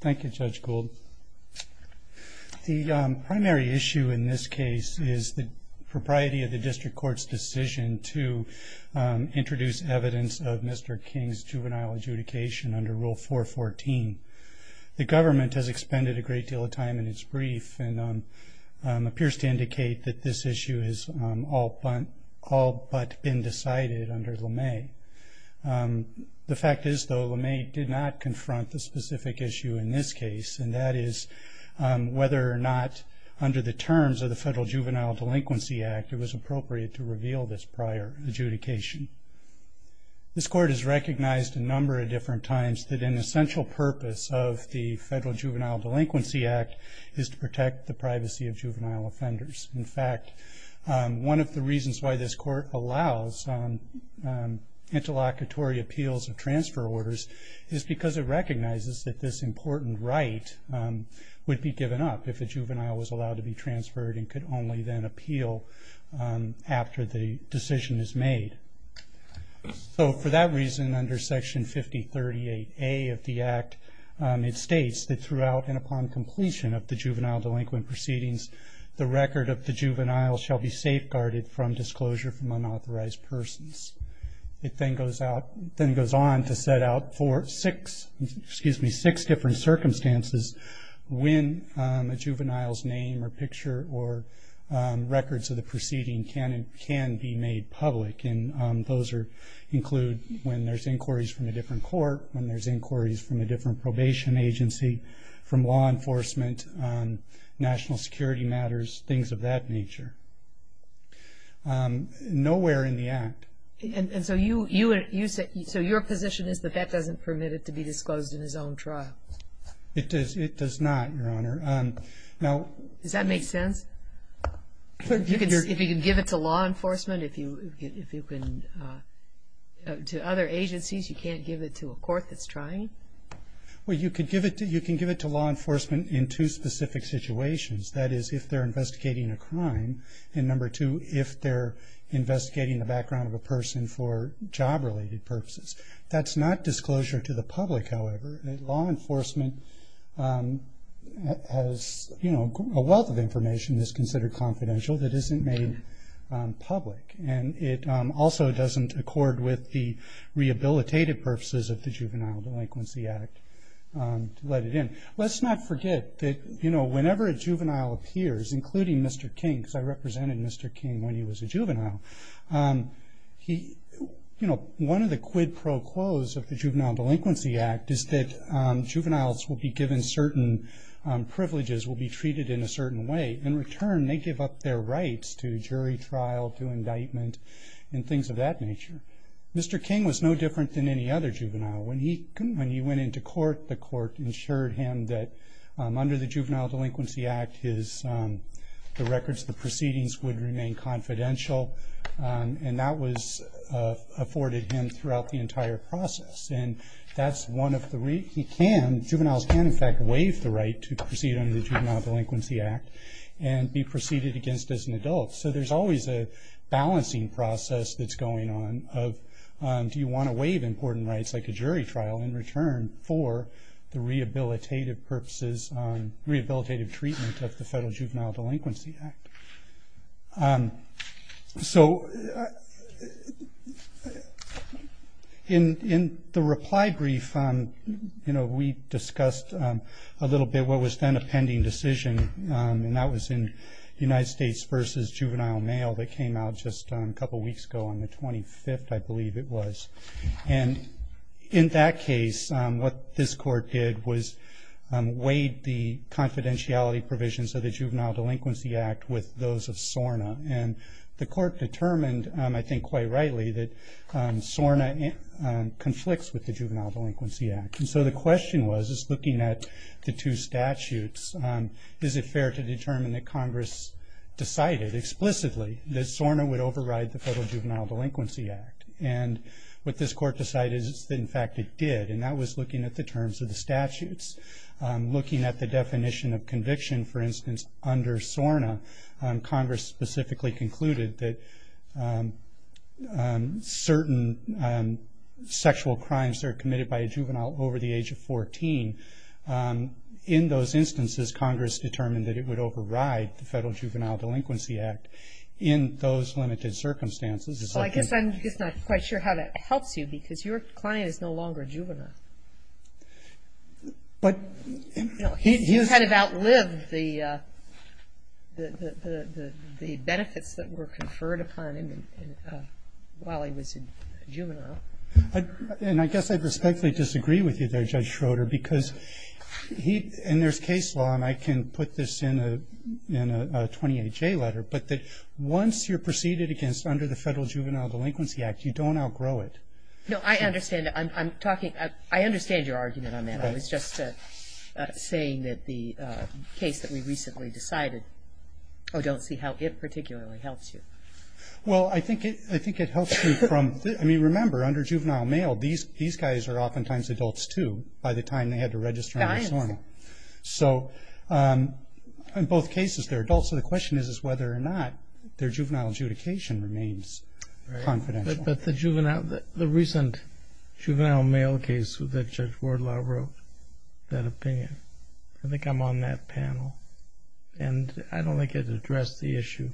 Thank you Judge Gould. The primary issue in this case is the propriety of the District Court's decision to introduce evidence of Mr. King's juvenile adjudication under Rule 414. The government has expended a great deal of time in its brief and appears to indicate that this issue is all but been decided under LeMay. The fact is though LeMay did not confront the specific issue in this case and that is whether or not under the terms of the Federal Juvenile Delinquency Act it was appropriate to reveal this prior adjudication. This court has recognized a number of different times that an essential purpose of the Federal Juvenile Delinquency Act is to protect the privacy of juvenile offenders. In fact one of the reasons why this court allows interlocutory appeals of transfer orders is because it recognizes that this important right would be given up if a juvenile was allowed to be transferred and could only then appeal after the decision is made. So for that reason under Section 5038A of the Act it states that throughout and upon completion of the juvenile delinquent proceedings the record of the juvenile shall be safeguarded from disclosure from unauthorized persons. It then goes on to set out for six different circumstances when a juvenile's name or picture or records of the proceeding can be made public. Those include when there's inquiries from a different court, when there's inquiries from a different probation agency, from law enforcement, national security matters, things of that nature. Nowhere in the Act. So your position is that that doesn't permit it to be disclosed in his own trial? It does not, Your Honor. Does that make sense? If you can give it to law enforcement, if you can to other agencies, you can't give it to a court that's trying? Well you can give it to law enforcement in two specific situations. That is if they're investigating a crime and number two if they're investigating the background of a person for job-related purposes. That's not disclosure to the public, however. Law enforcement has a wealth of information that's considered confidential that isn't made public and it also doesn't accord with the rehabilitative purposes of the Juvenile Delinquency Act. Let's not forget that whenever a juvenile appears, including Mr. King, because I represented Mr. King when he was a juvenile, one of the quid pro quos of the Juvenile Delinquency Act is that juveniles will be given certain privileges, will be treated in a certain way. In return they give up their rights to jury trial, to indictment, and things of that nature. Mr. King was no different than any other juvenile. When he went into court, the court ensured him that under the Juvenile Delinquency Act, the records, the proceedings would remain confidential and that was afforded him throughout the entire process. Juveniles can in fact waive the right to jury trial just as an adult. There's always a balancing process that's going on of do you want to waive important rights like a jury trial in return for the rehabilitative purposes, rehabilitative treatment of the Federal Juvenile Delinquency Act. In the reply brief, we discussed a little bit what was then a pending decision. That was in United States v. Juvenile Mail that came out just a couple weeks ago on the 25th, I believe it was. In that case, what this court did was weighed the confidentiality provisions of the Juvenile Delinquency Act with those of SORNA. The court determined, I think quite rightly, that SORNA conflicts with the Juvenile Delinquency Act. The question was, looking at the two statutes, is it fair to determine that Congress decided explicitly that SORNA would override the Federal Juvenile Delinquency Act. What this court decided is that in fact it did and that was looking at the terms of the statutes. Looking at the definition of conviction, for instance, under SORNA, Congress specifically concluded that certain sexual crimes are committed by a juvenile over the age of 14. In those instances, Congress determined that it would override the Federal Juvenile Delinquency Act in those limited circumstances. Well, I guess I'm just not quite sure how that helps you because your client is no longer a juvenile. But you kind of outlived the benefits that were conferred upon him while he was a juvenile. And I guess I respectfully disagree with you there, Judge Schroeder, because he, and there's case law, and I can put this in a 28J letter, but that once you're preceded against under the Federal Juvenile Delinquency Act, you don't outgrow it. No, I understand. I'm talking, I understand your argument on that. I was just saying that the case that we recently decided, I don't see how it particularly helps you. Well, I think it helps you from, I mean, remember, under juvenile mail, these guys are oftentimes adults, too, by the time they had to register under SORNA. So, in both cases, they're adults, so the question is whether or not their juvenile adjudication remains confidential. But the juvenile, the recent juvenile mail case that Judge Wardlaw wrote, that opinion, I think I'm on that panel. And I don't think it addressed the issue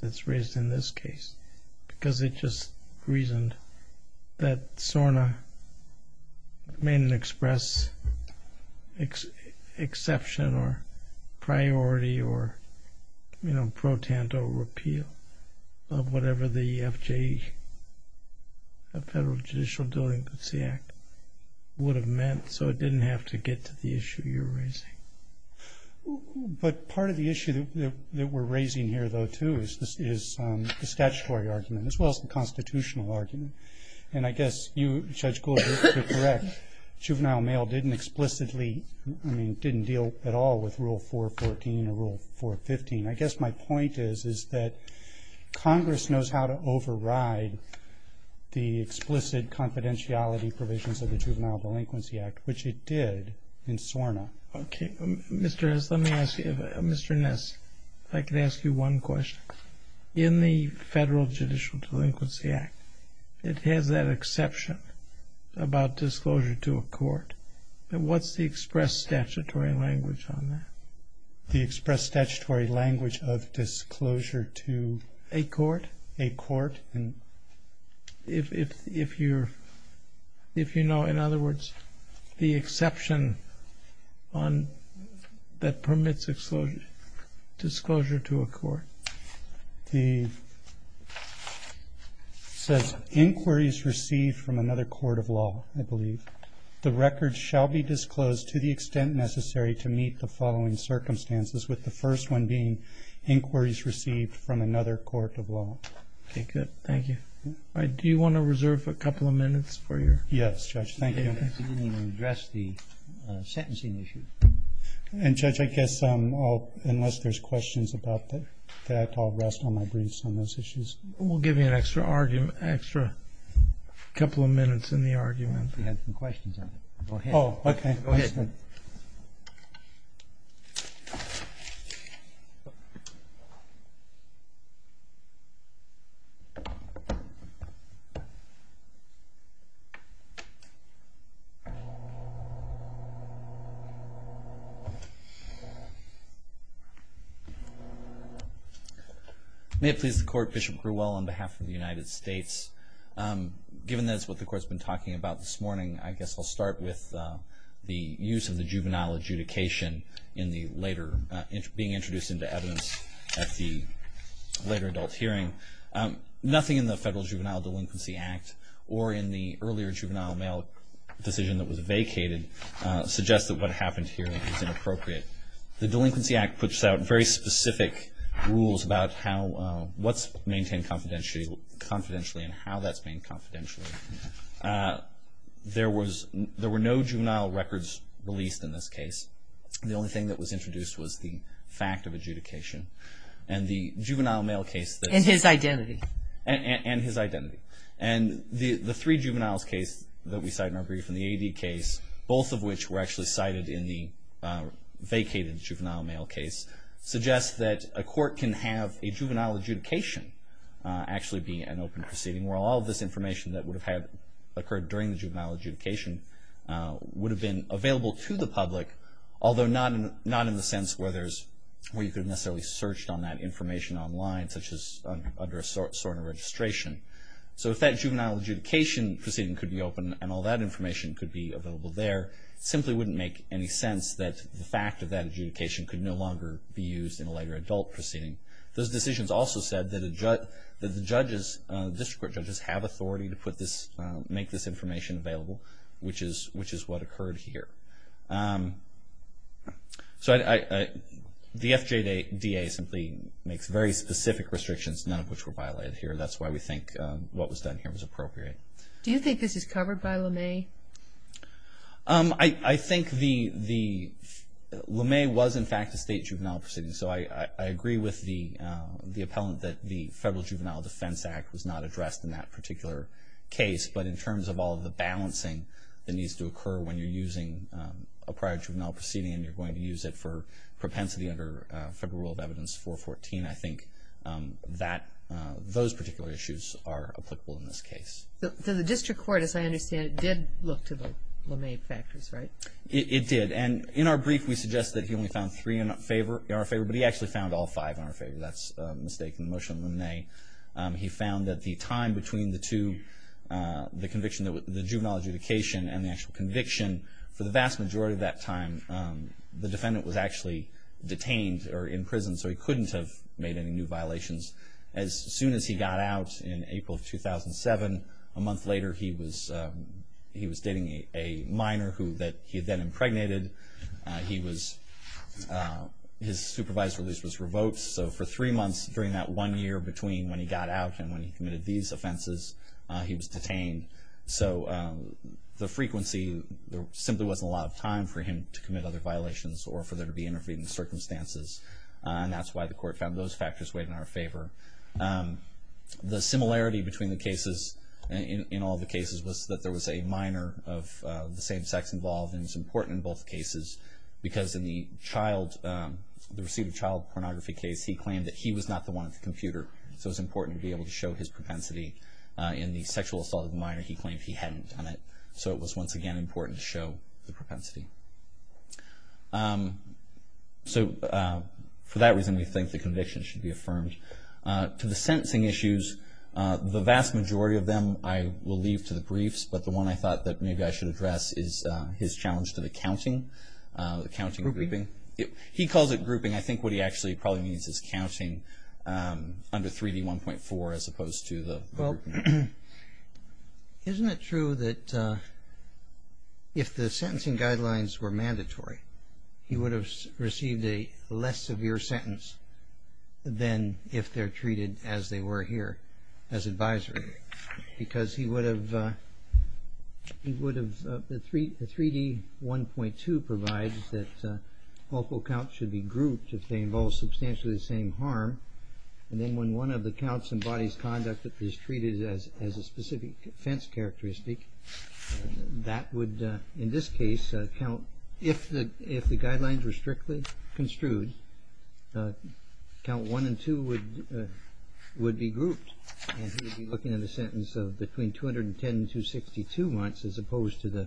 that's reasoned, that SORNA made an express exception or priority or, you know, pro-tanto repeal of whatever the FJ, the Federal Judicial Delinquency Act would have meant, so it didn't have to get to the issue you're raising. But part of the issue that we're raising here, though, too, is the statutory argument, as well as the constitutional argument. And I guess you, Judge Gould, are correct. Juvenile mail didn't explicitly, I mean, didn't deal at all with Rule 414 or Rule 415. I guess my point is, is that Congress knows how to override the explicit confidentiality provisions of the Juvenile Delinquency Act, which it did in SORNA. Okay, Mr. Ness, let me ask you, Mr. Ness, if I could ask you one question. In the Federal Judicial Delinquency Act, it has that exception about disclosure to a court. And what's the express statutory language on that? The express statutory language of disclosure to a court? A court. If you're, if you know, in other words, the first one being inquiries received from another court of law, I believe. The record shall be disclosed to the extent necessary to meet the following circumstances, with the first one being inquiries received from another court of law. Okay, good. Thank you. Do you want to reserve a couple of minutes for your? Yes, Judge. Thank you. You didn't even address the sentencing issue. And, Judge, I guess unless there's questions about that, I'll rest on my briefs on those issues. We'll give you an extra argument, extra couple of minutes in the argument. We had some questions on it. Go ahead. Oh, okay. Go ahead. May it please the Court, Bishop Grewell on behalf of the United States. Given that's what the Court's been talking about this morning, I guess I'll start with the use of the juvenile adjudication in the later, being introduced into evidence at the later adult hearing. Nothing in the Federal Juvenile Delinquency Act or in the earlier juvenile mail decision that was vacated suggests that what happened here is inappropriate. The Delinquency Act puts out very specific rules about how, what's maintained confidentially and how that's been confidentially. There was, there were no juvenile records released in this case. The only thing that was introduced was the fact of adjudication and the juvenile mail case. And his identity. And his identity. And the the three juveniles case that we cite in our brief and the AD case, both of which were actually cited in the vacated juvenile mail case, suggests that a court can have a juvenile adjudication actually be an open proceeding where all this information that would have had occurred during the juvenile adjudication would have been available to the public, although not in the sense where there's, where you could have necessarily searched on that information online, such as under a SORNA registration. So if that juvenile adjudication proceeding could be open and all that information could be available there, it simply wouldn't make any sense that the fact of that adjudication could no longer be used in a later adult proceeding. Those decisions also said that the judges, district court judges, have authority to put this, make this information available, which is, which is what occurred here. So I, the FJDA simply makes very specific restrictions, none of which were violated here. That's why we think what was done here was appropriate. Do you think this is covered by LeMay? I think the, LeMay was in fact a state juvenile proceeding, so I agree with the the appellant that the Federal Juvenile Defense Act was not addressed in that particular case, but in terms of all the balancing that needs to occur when you're using a prior juvenile proceeding and you're going to use it for propensity under Federal Rule of Evidence 414, I think they are applicable in this case. So the district court, as I understand it, did look to the LeMay factors, right? It did, and in our brief, we suggest that he only found three in our favor, but he actually found all five in our favor. That's a mistake in the motion of LeMay. He found that the time between the two, the conviction, the juvenile adjudication and the actual conviction, for the vast majority of that time, the defendant was actually detained or in prison, so he was in prison until April of 2007. A month later, he was he was dating a minor who that he had then impregnated. He was, his supervised release was revoked, so for three months during that one year between when he got out and when he committed these offenses, he was detained. So the frequency, there simply wasn't a lot of time for him to commit other violations or for there to be interfering circumstances, and that's why the court found those factors weighed in our favor. The similarity between the cases, in all the cases, was that there was a minor of the same sex involved, and it's important in both cases, because in the child, the received child pornography case, he claimed that he was not the one at the computer, so it's important to be able to show his propensity. In the sexual assault of a minor, he claimed he hadn't done it, so it was once again important to show the propensity. So for that reason, we think the conviction should be affirmed. To the sentencing issues, the vast majority of them I will leave to the briefs, but the one I thought that maybe I should address is his challenge to the counting, the counting grouping. He calls it grouping, I think what he actually probably means is counting under 3d 1.4 as opposed to the... Well, isn't it true that if the sentencing guidelines were mandatory, he would have received a less severe sentence than if they're treated as they were here, as advisory, because he would have... The 3d 1.2 provides that local counts should be grouped if they involve substantially the same harm, and then when one of the counts embodies conduct that is treated as a specific offense characteristic, that would, in this case, count... If the guidelines were strictly construed, count 1 and 2 would be grouped, and he would be looking at a sentence of between 210 and 262 months as opposed to the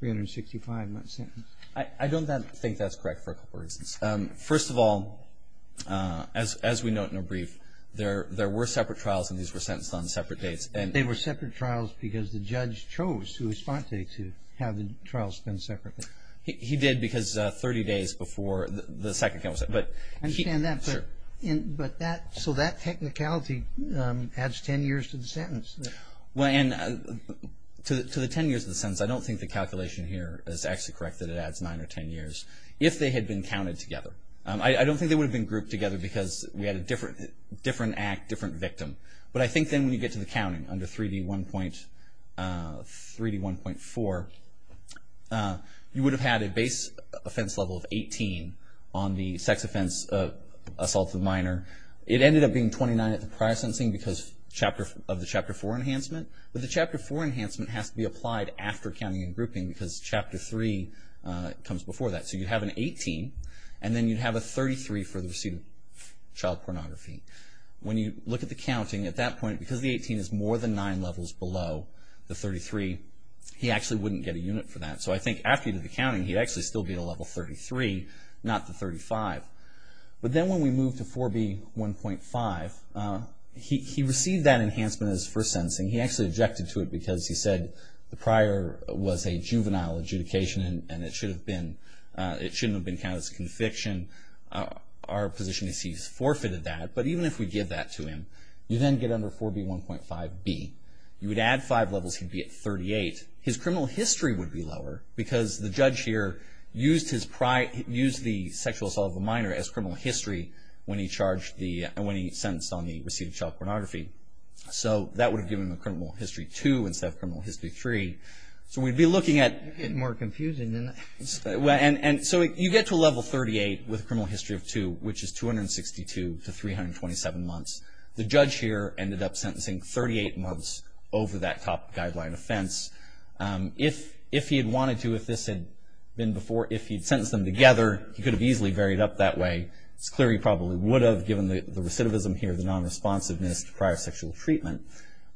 365 month sentence. I don't think that's correct for a couple of reasons. First of all, as we note in the brief, there were separate trials and these were sentenced on separate dates. They were separate trials because the judge chose to have the trial spent separately. He did because 30 days before the second count was set, but... I understand that, but that, so that technicality adds ten years to the sentence. Well, and to the ten years of the sentence, I don't think the calculation here is actually correct, that it adds nine or ten years, if they had been counted together. I don't think they would have been grouped together because we had a different act, different victim, but I think then you get to the counting under 3D1.4, you would have had a base offense level of 18 on the sex offense assault of the minor. It ended up being 29 at the prior sensing because of the Chapter 4 enhancement, but the Chapter 4 enhancement has to be applied after counting and grouping because Chapter 3 comes before that. So you have an 18 and then you'd have a 33 for the assault pornography. When you look at the counting, at that point, because the 18 is more than nine levels below the 33, he actually wouldn't get a unit for that. So I think after he did the counting, he'd actually still be at a level 33, not the 35. But then when we moved to 4B1.5, he received that enhancement as first sentencing. He actually objected to it because he said the prior was a juvenile adjudication and it shouldn't have been counted as a conviction. Our position is he's forfeited that, but even if we give that to him, you then get under 4B1.5B. You would add five levels, he'd be at 38. His criminal history would be lower because the judge here used the sexual assault of a minor as criminal history when he sentenced on the received child pornography. So that would have given him a criminal history 2 instead of criminal history 3. So we'd be looking at... with a criminal history of 2, which is 262 to 327 months. The judge here ended up sentencing 38 months over that top guideline offense. If he had wanted to, if this had been before, if he'd sentenced them together, he could have easily varied up that way. It's clear he probably would have given the recidivism here, the non-responsiveness to prior sexual treatment.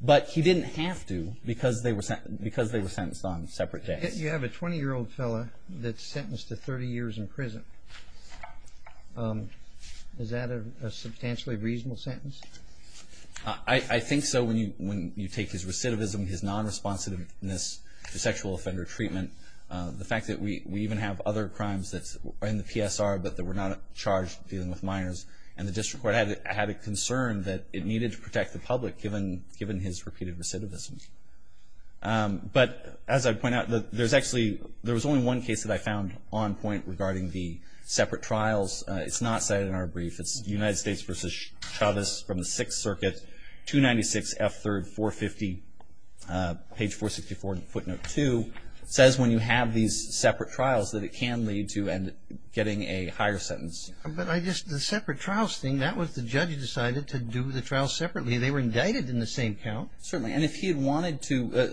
But he didn't have to because they were sentenced on separate days. You have a 20-year-old fellow that's sentenced to 30 years in prison. Is that a substantially reasonable sentence? I think so when you take his recidivism, his non-responsiveness to sexual offender treatment, the fact that we even have other crimes that's in the PSR but that were not charged dealing with minors, and the district court had a concern that it needed to protect the public given his repeated recidivism. But as I point out, there was only one case that I found on point regarding the separate trials. It's not cited in our brief. It's United States v. Chavez from the Sixth Circuit, 296 F. 3rd, 450, page 464, footnote 2, says when you have these separate trials that it can lead to getting a higher sentence. But I just, the separate trials thing, that was the judge who decided to do the trial separately. They were indicted in the same count. Certainly, and if he had wanted to,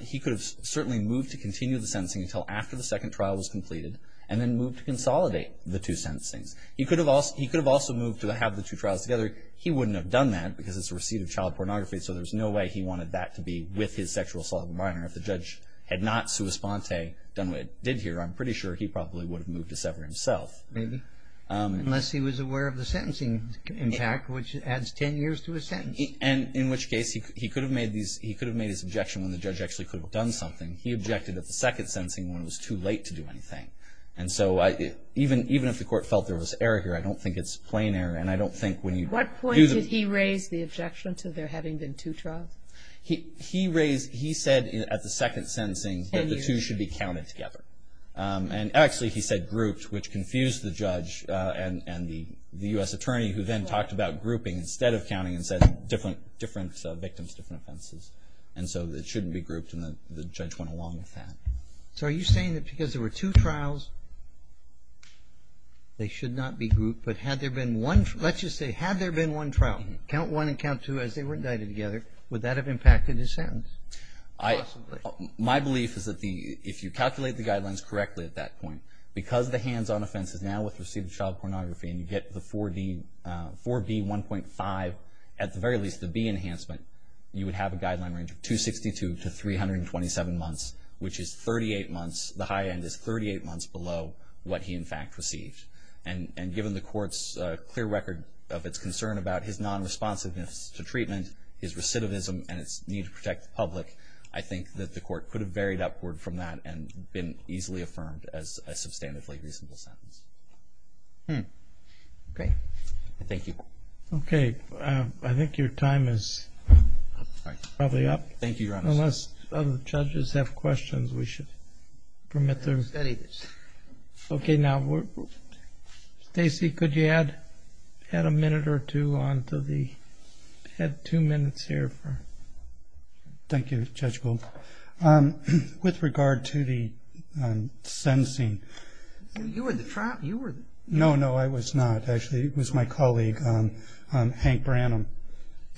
he could have certainly moved to continue the sentencing until after the second trial was completed and then moved to consolidate the two sentencings. He could have also moved to have the two trials together. He wouldn't have done that because it's a receipt of child pornography, so there's no way he wanted that to be with his sexual assault of a minor. If the judge had not sua sponte done what it did here, I'm pretty sure he probably would have moved to sever himself. Maybe, unless he was aware of the sentencing impact, which adds 10 years to a sentence. And in which case, he could have made these, he could have made his objection when the judge actually could have done something. He objected at the second sentencing when it was too late to do anything. And so I, even if the court felt there was error here, I don't think it's plain error. And I don't think when you do the... What point did he raise the objection to there having been two trials? He raised, he said at the second sentencing that the two should be counted together. And actually, he said grouped, which confused the judge and the U.S. attorney who then talked about grouping instead of counting and said different victims, different offenses. And so it shouldn't be grouped, and the judge went along with that. So are you saying that because there were two trials, they should not be grouped? But had there been one, let's just say, had there been one trial, count one and count two as they were indicted together, would that have impacted his sentence? Possibly. My belief is that the, if you calculate the guidelines correctly at that point, because the hands-on offense is now with receipt of child pornography and you get the 4B1.5, at the very least, the B enhancement, you would have a guideline range of 262 to 327 months, which is 38 months, the high end is 38 months below what he in fact received. And given the court's clear record of its concern about his non-responsiveness to treatment, his recidivism and its need to protect the public, I think that the court could have varied upward from that and been easily affirmed as a substantively reasonable sentence. Okay. Thank you. Okay. I think your time is probably up. Thank you, Your Honor. Unless other judges have questions, we should permit them. Let's study this. Okay. Now, Stacy, could you add a minute or two on to the, add two minutes here for... Thank you, Judge Gould. With regard to the sentencing... You were the trial... No, no, I was not. Actually, it was my colleague, Hank Branham.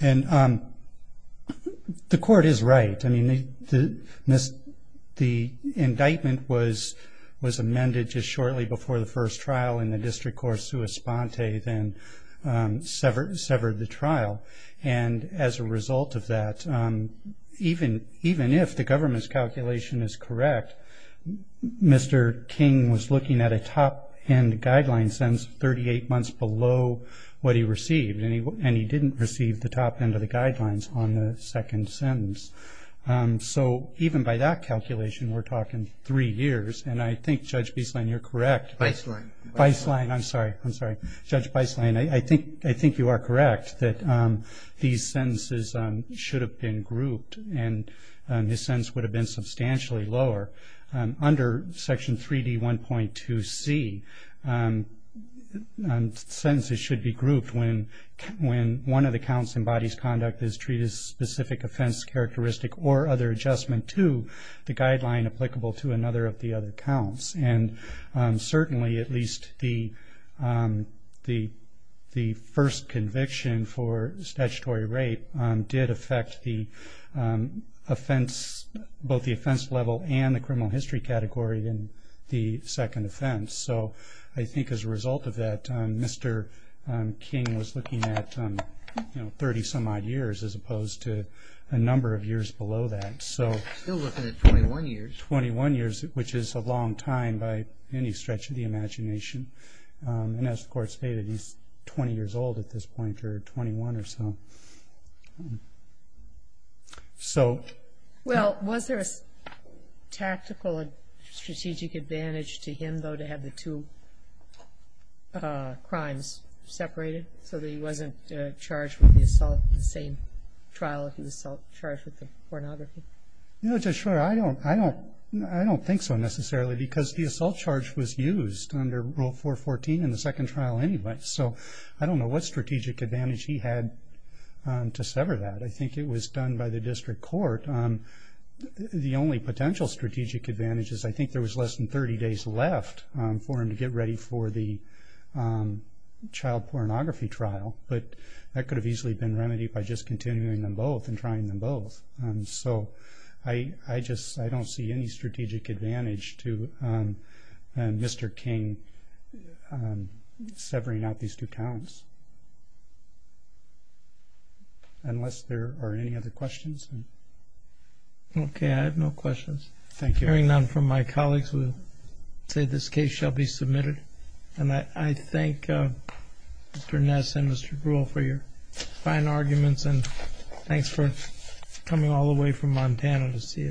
And the court is right. I mean, the indictment was amended just shortly before the first trial and the district court, sua sponte, then severed the trial. And as a result of that, even if the government's calculation is correct, Mr. King was looking at a top-end guideline sentence 38 months below what he received, and he didn't receive the top-end of the guidelines on the second sentence. So even by that calculation, we're talking three years. And I think, Judge Beislein, you're correct. Beislein. Beislein. I'm sorry. I'm sorry. Judge Beislein, I think you are correct that these sentences should have been grouped, and his sentence would have been substantially lower. Under Section 3D1.2c, sentences should be grouped when one of the counts embodies conduct that is treated as a specific offense characteristic or other adjustment to the guideline applicable to another of the other counts. And certainly, at least the first conviction for statutory rape did affect the offense, both the offense level and the criminal history category in the second offense. So I think as a result of that, Mr. King was looking at 30-some-odd years as opposed to a number of years below that. Still looking at 21 years. 21 years, which is a long time by any stretch of the imagination. And as the court stated, he's 20 years old at this point, or 21 or so. So. Well, was there a tactical and strategic advantage to him, though, to have the two crimes separated so that he wasn't charged with the assault in the same trial if he was charged with the pornography? No, Judge Schroeder, I don't think so, necessarily, because the assault charge was used under Rule 414 in the second trial anyway. So I don't know what strategic advantage he had to sever that. I think it was done by the district court. The only potential strategic advantage is I think there was less than 30 days left for him to get ready for the child pornography trial, but that could have easily been remedied by just continuing them both and trying them both. So I just, I don't see any strategic advantage to Mr. King severing out these two counts. Unless there are any other questions. Okay. I have no questions. Hearing none from my colleagues, we'll say this case shall be submitted. And I thank Mr. Ness and Mr. Brewer for your fine arguments. And thanks for coming all the way from Montana to see us.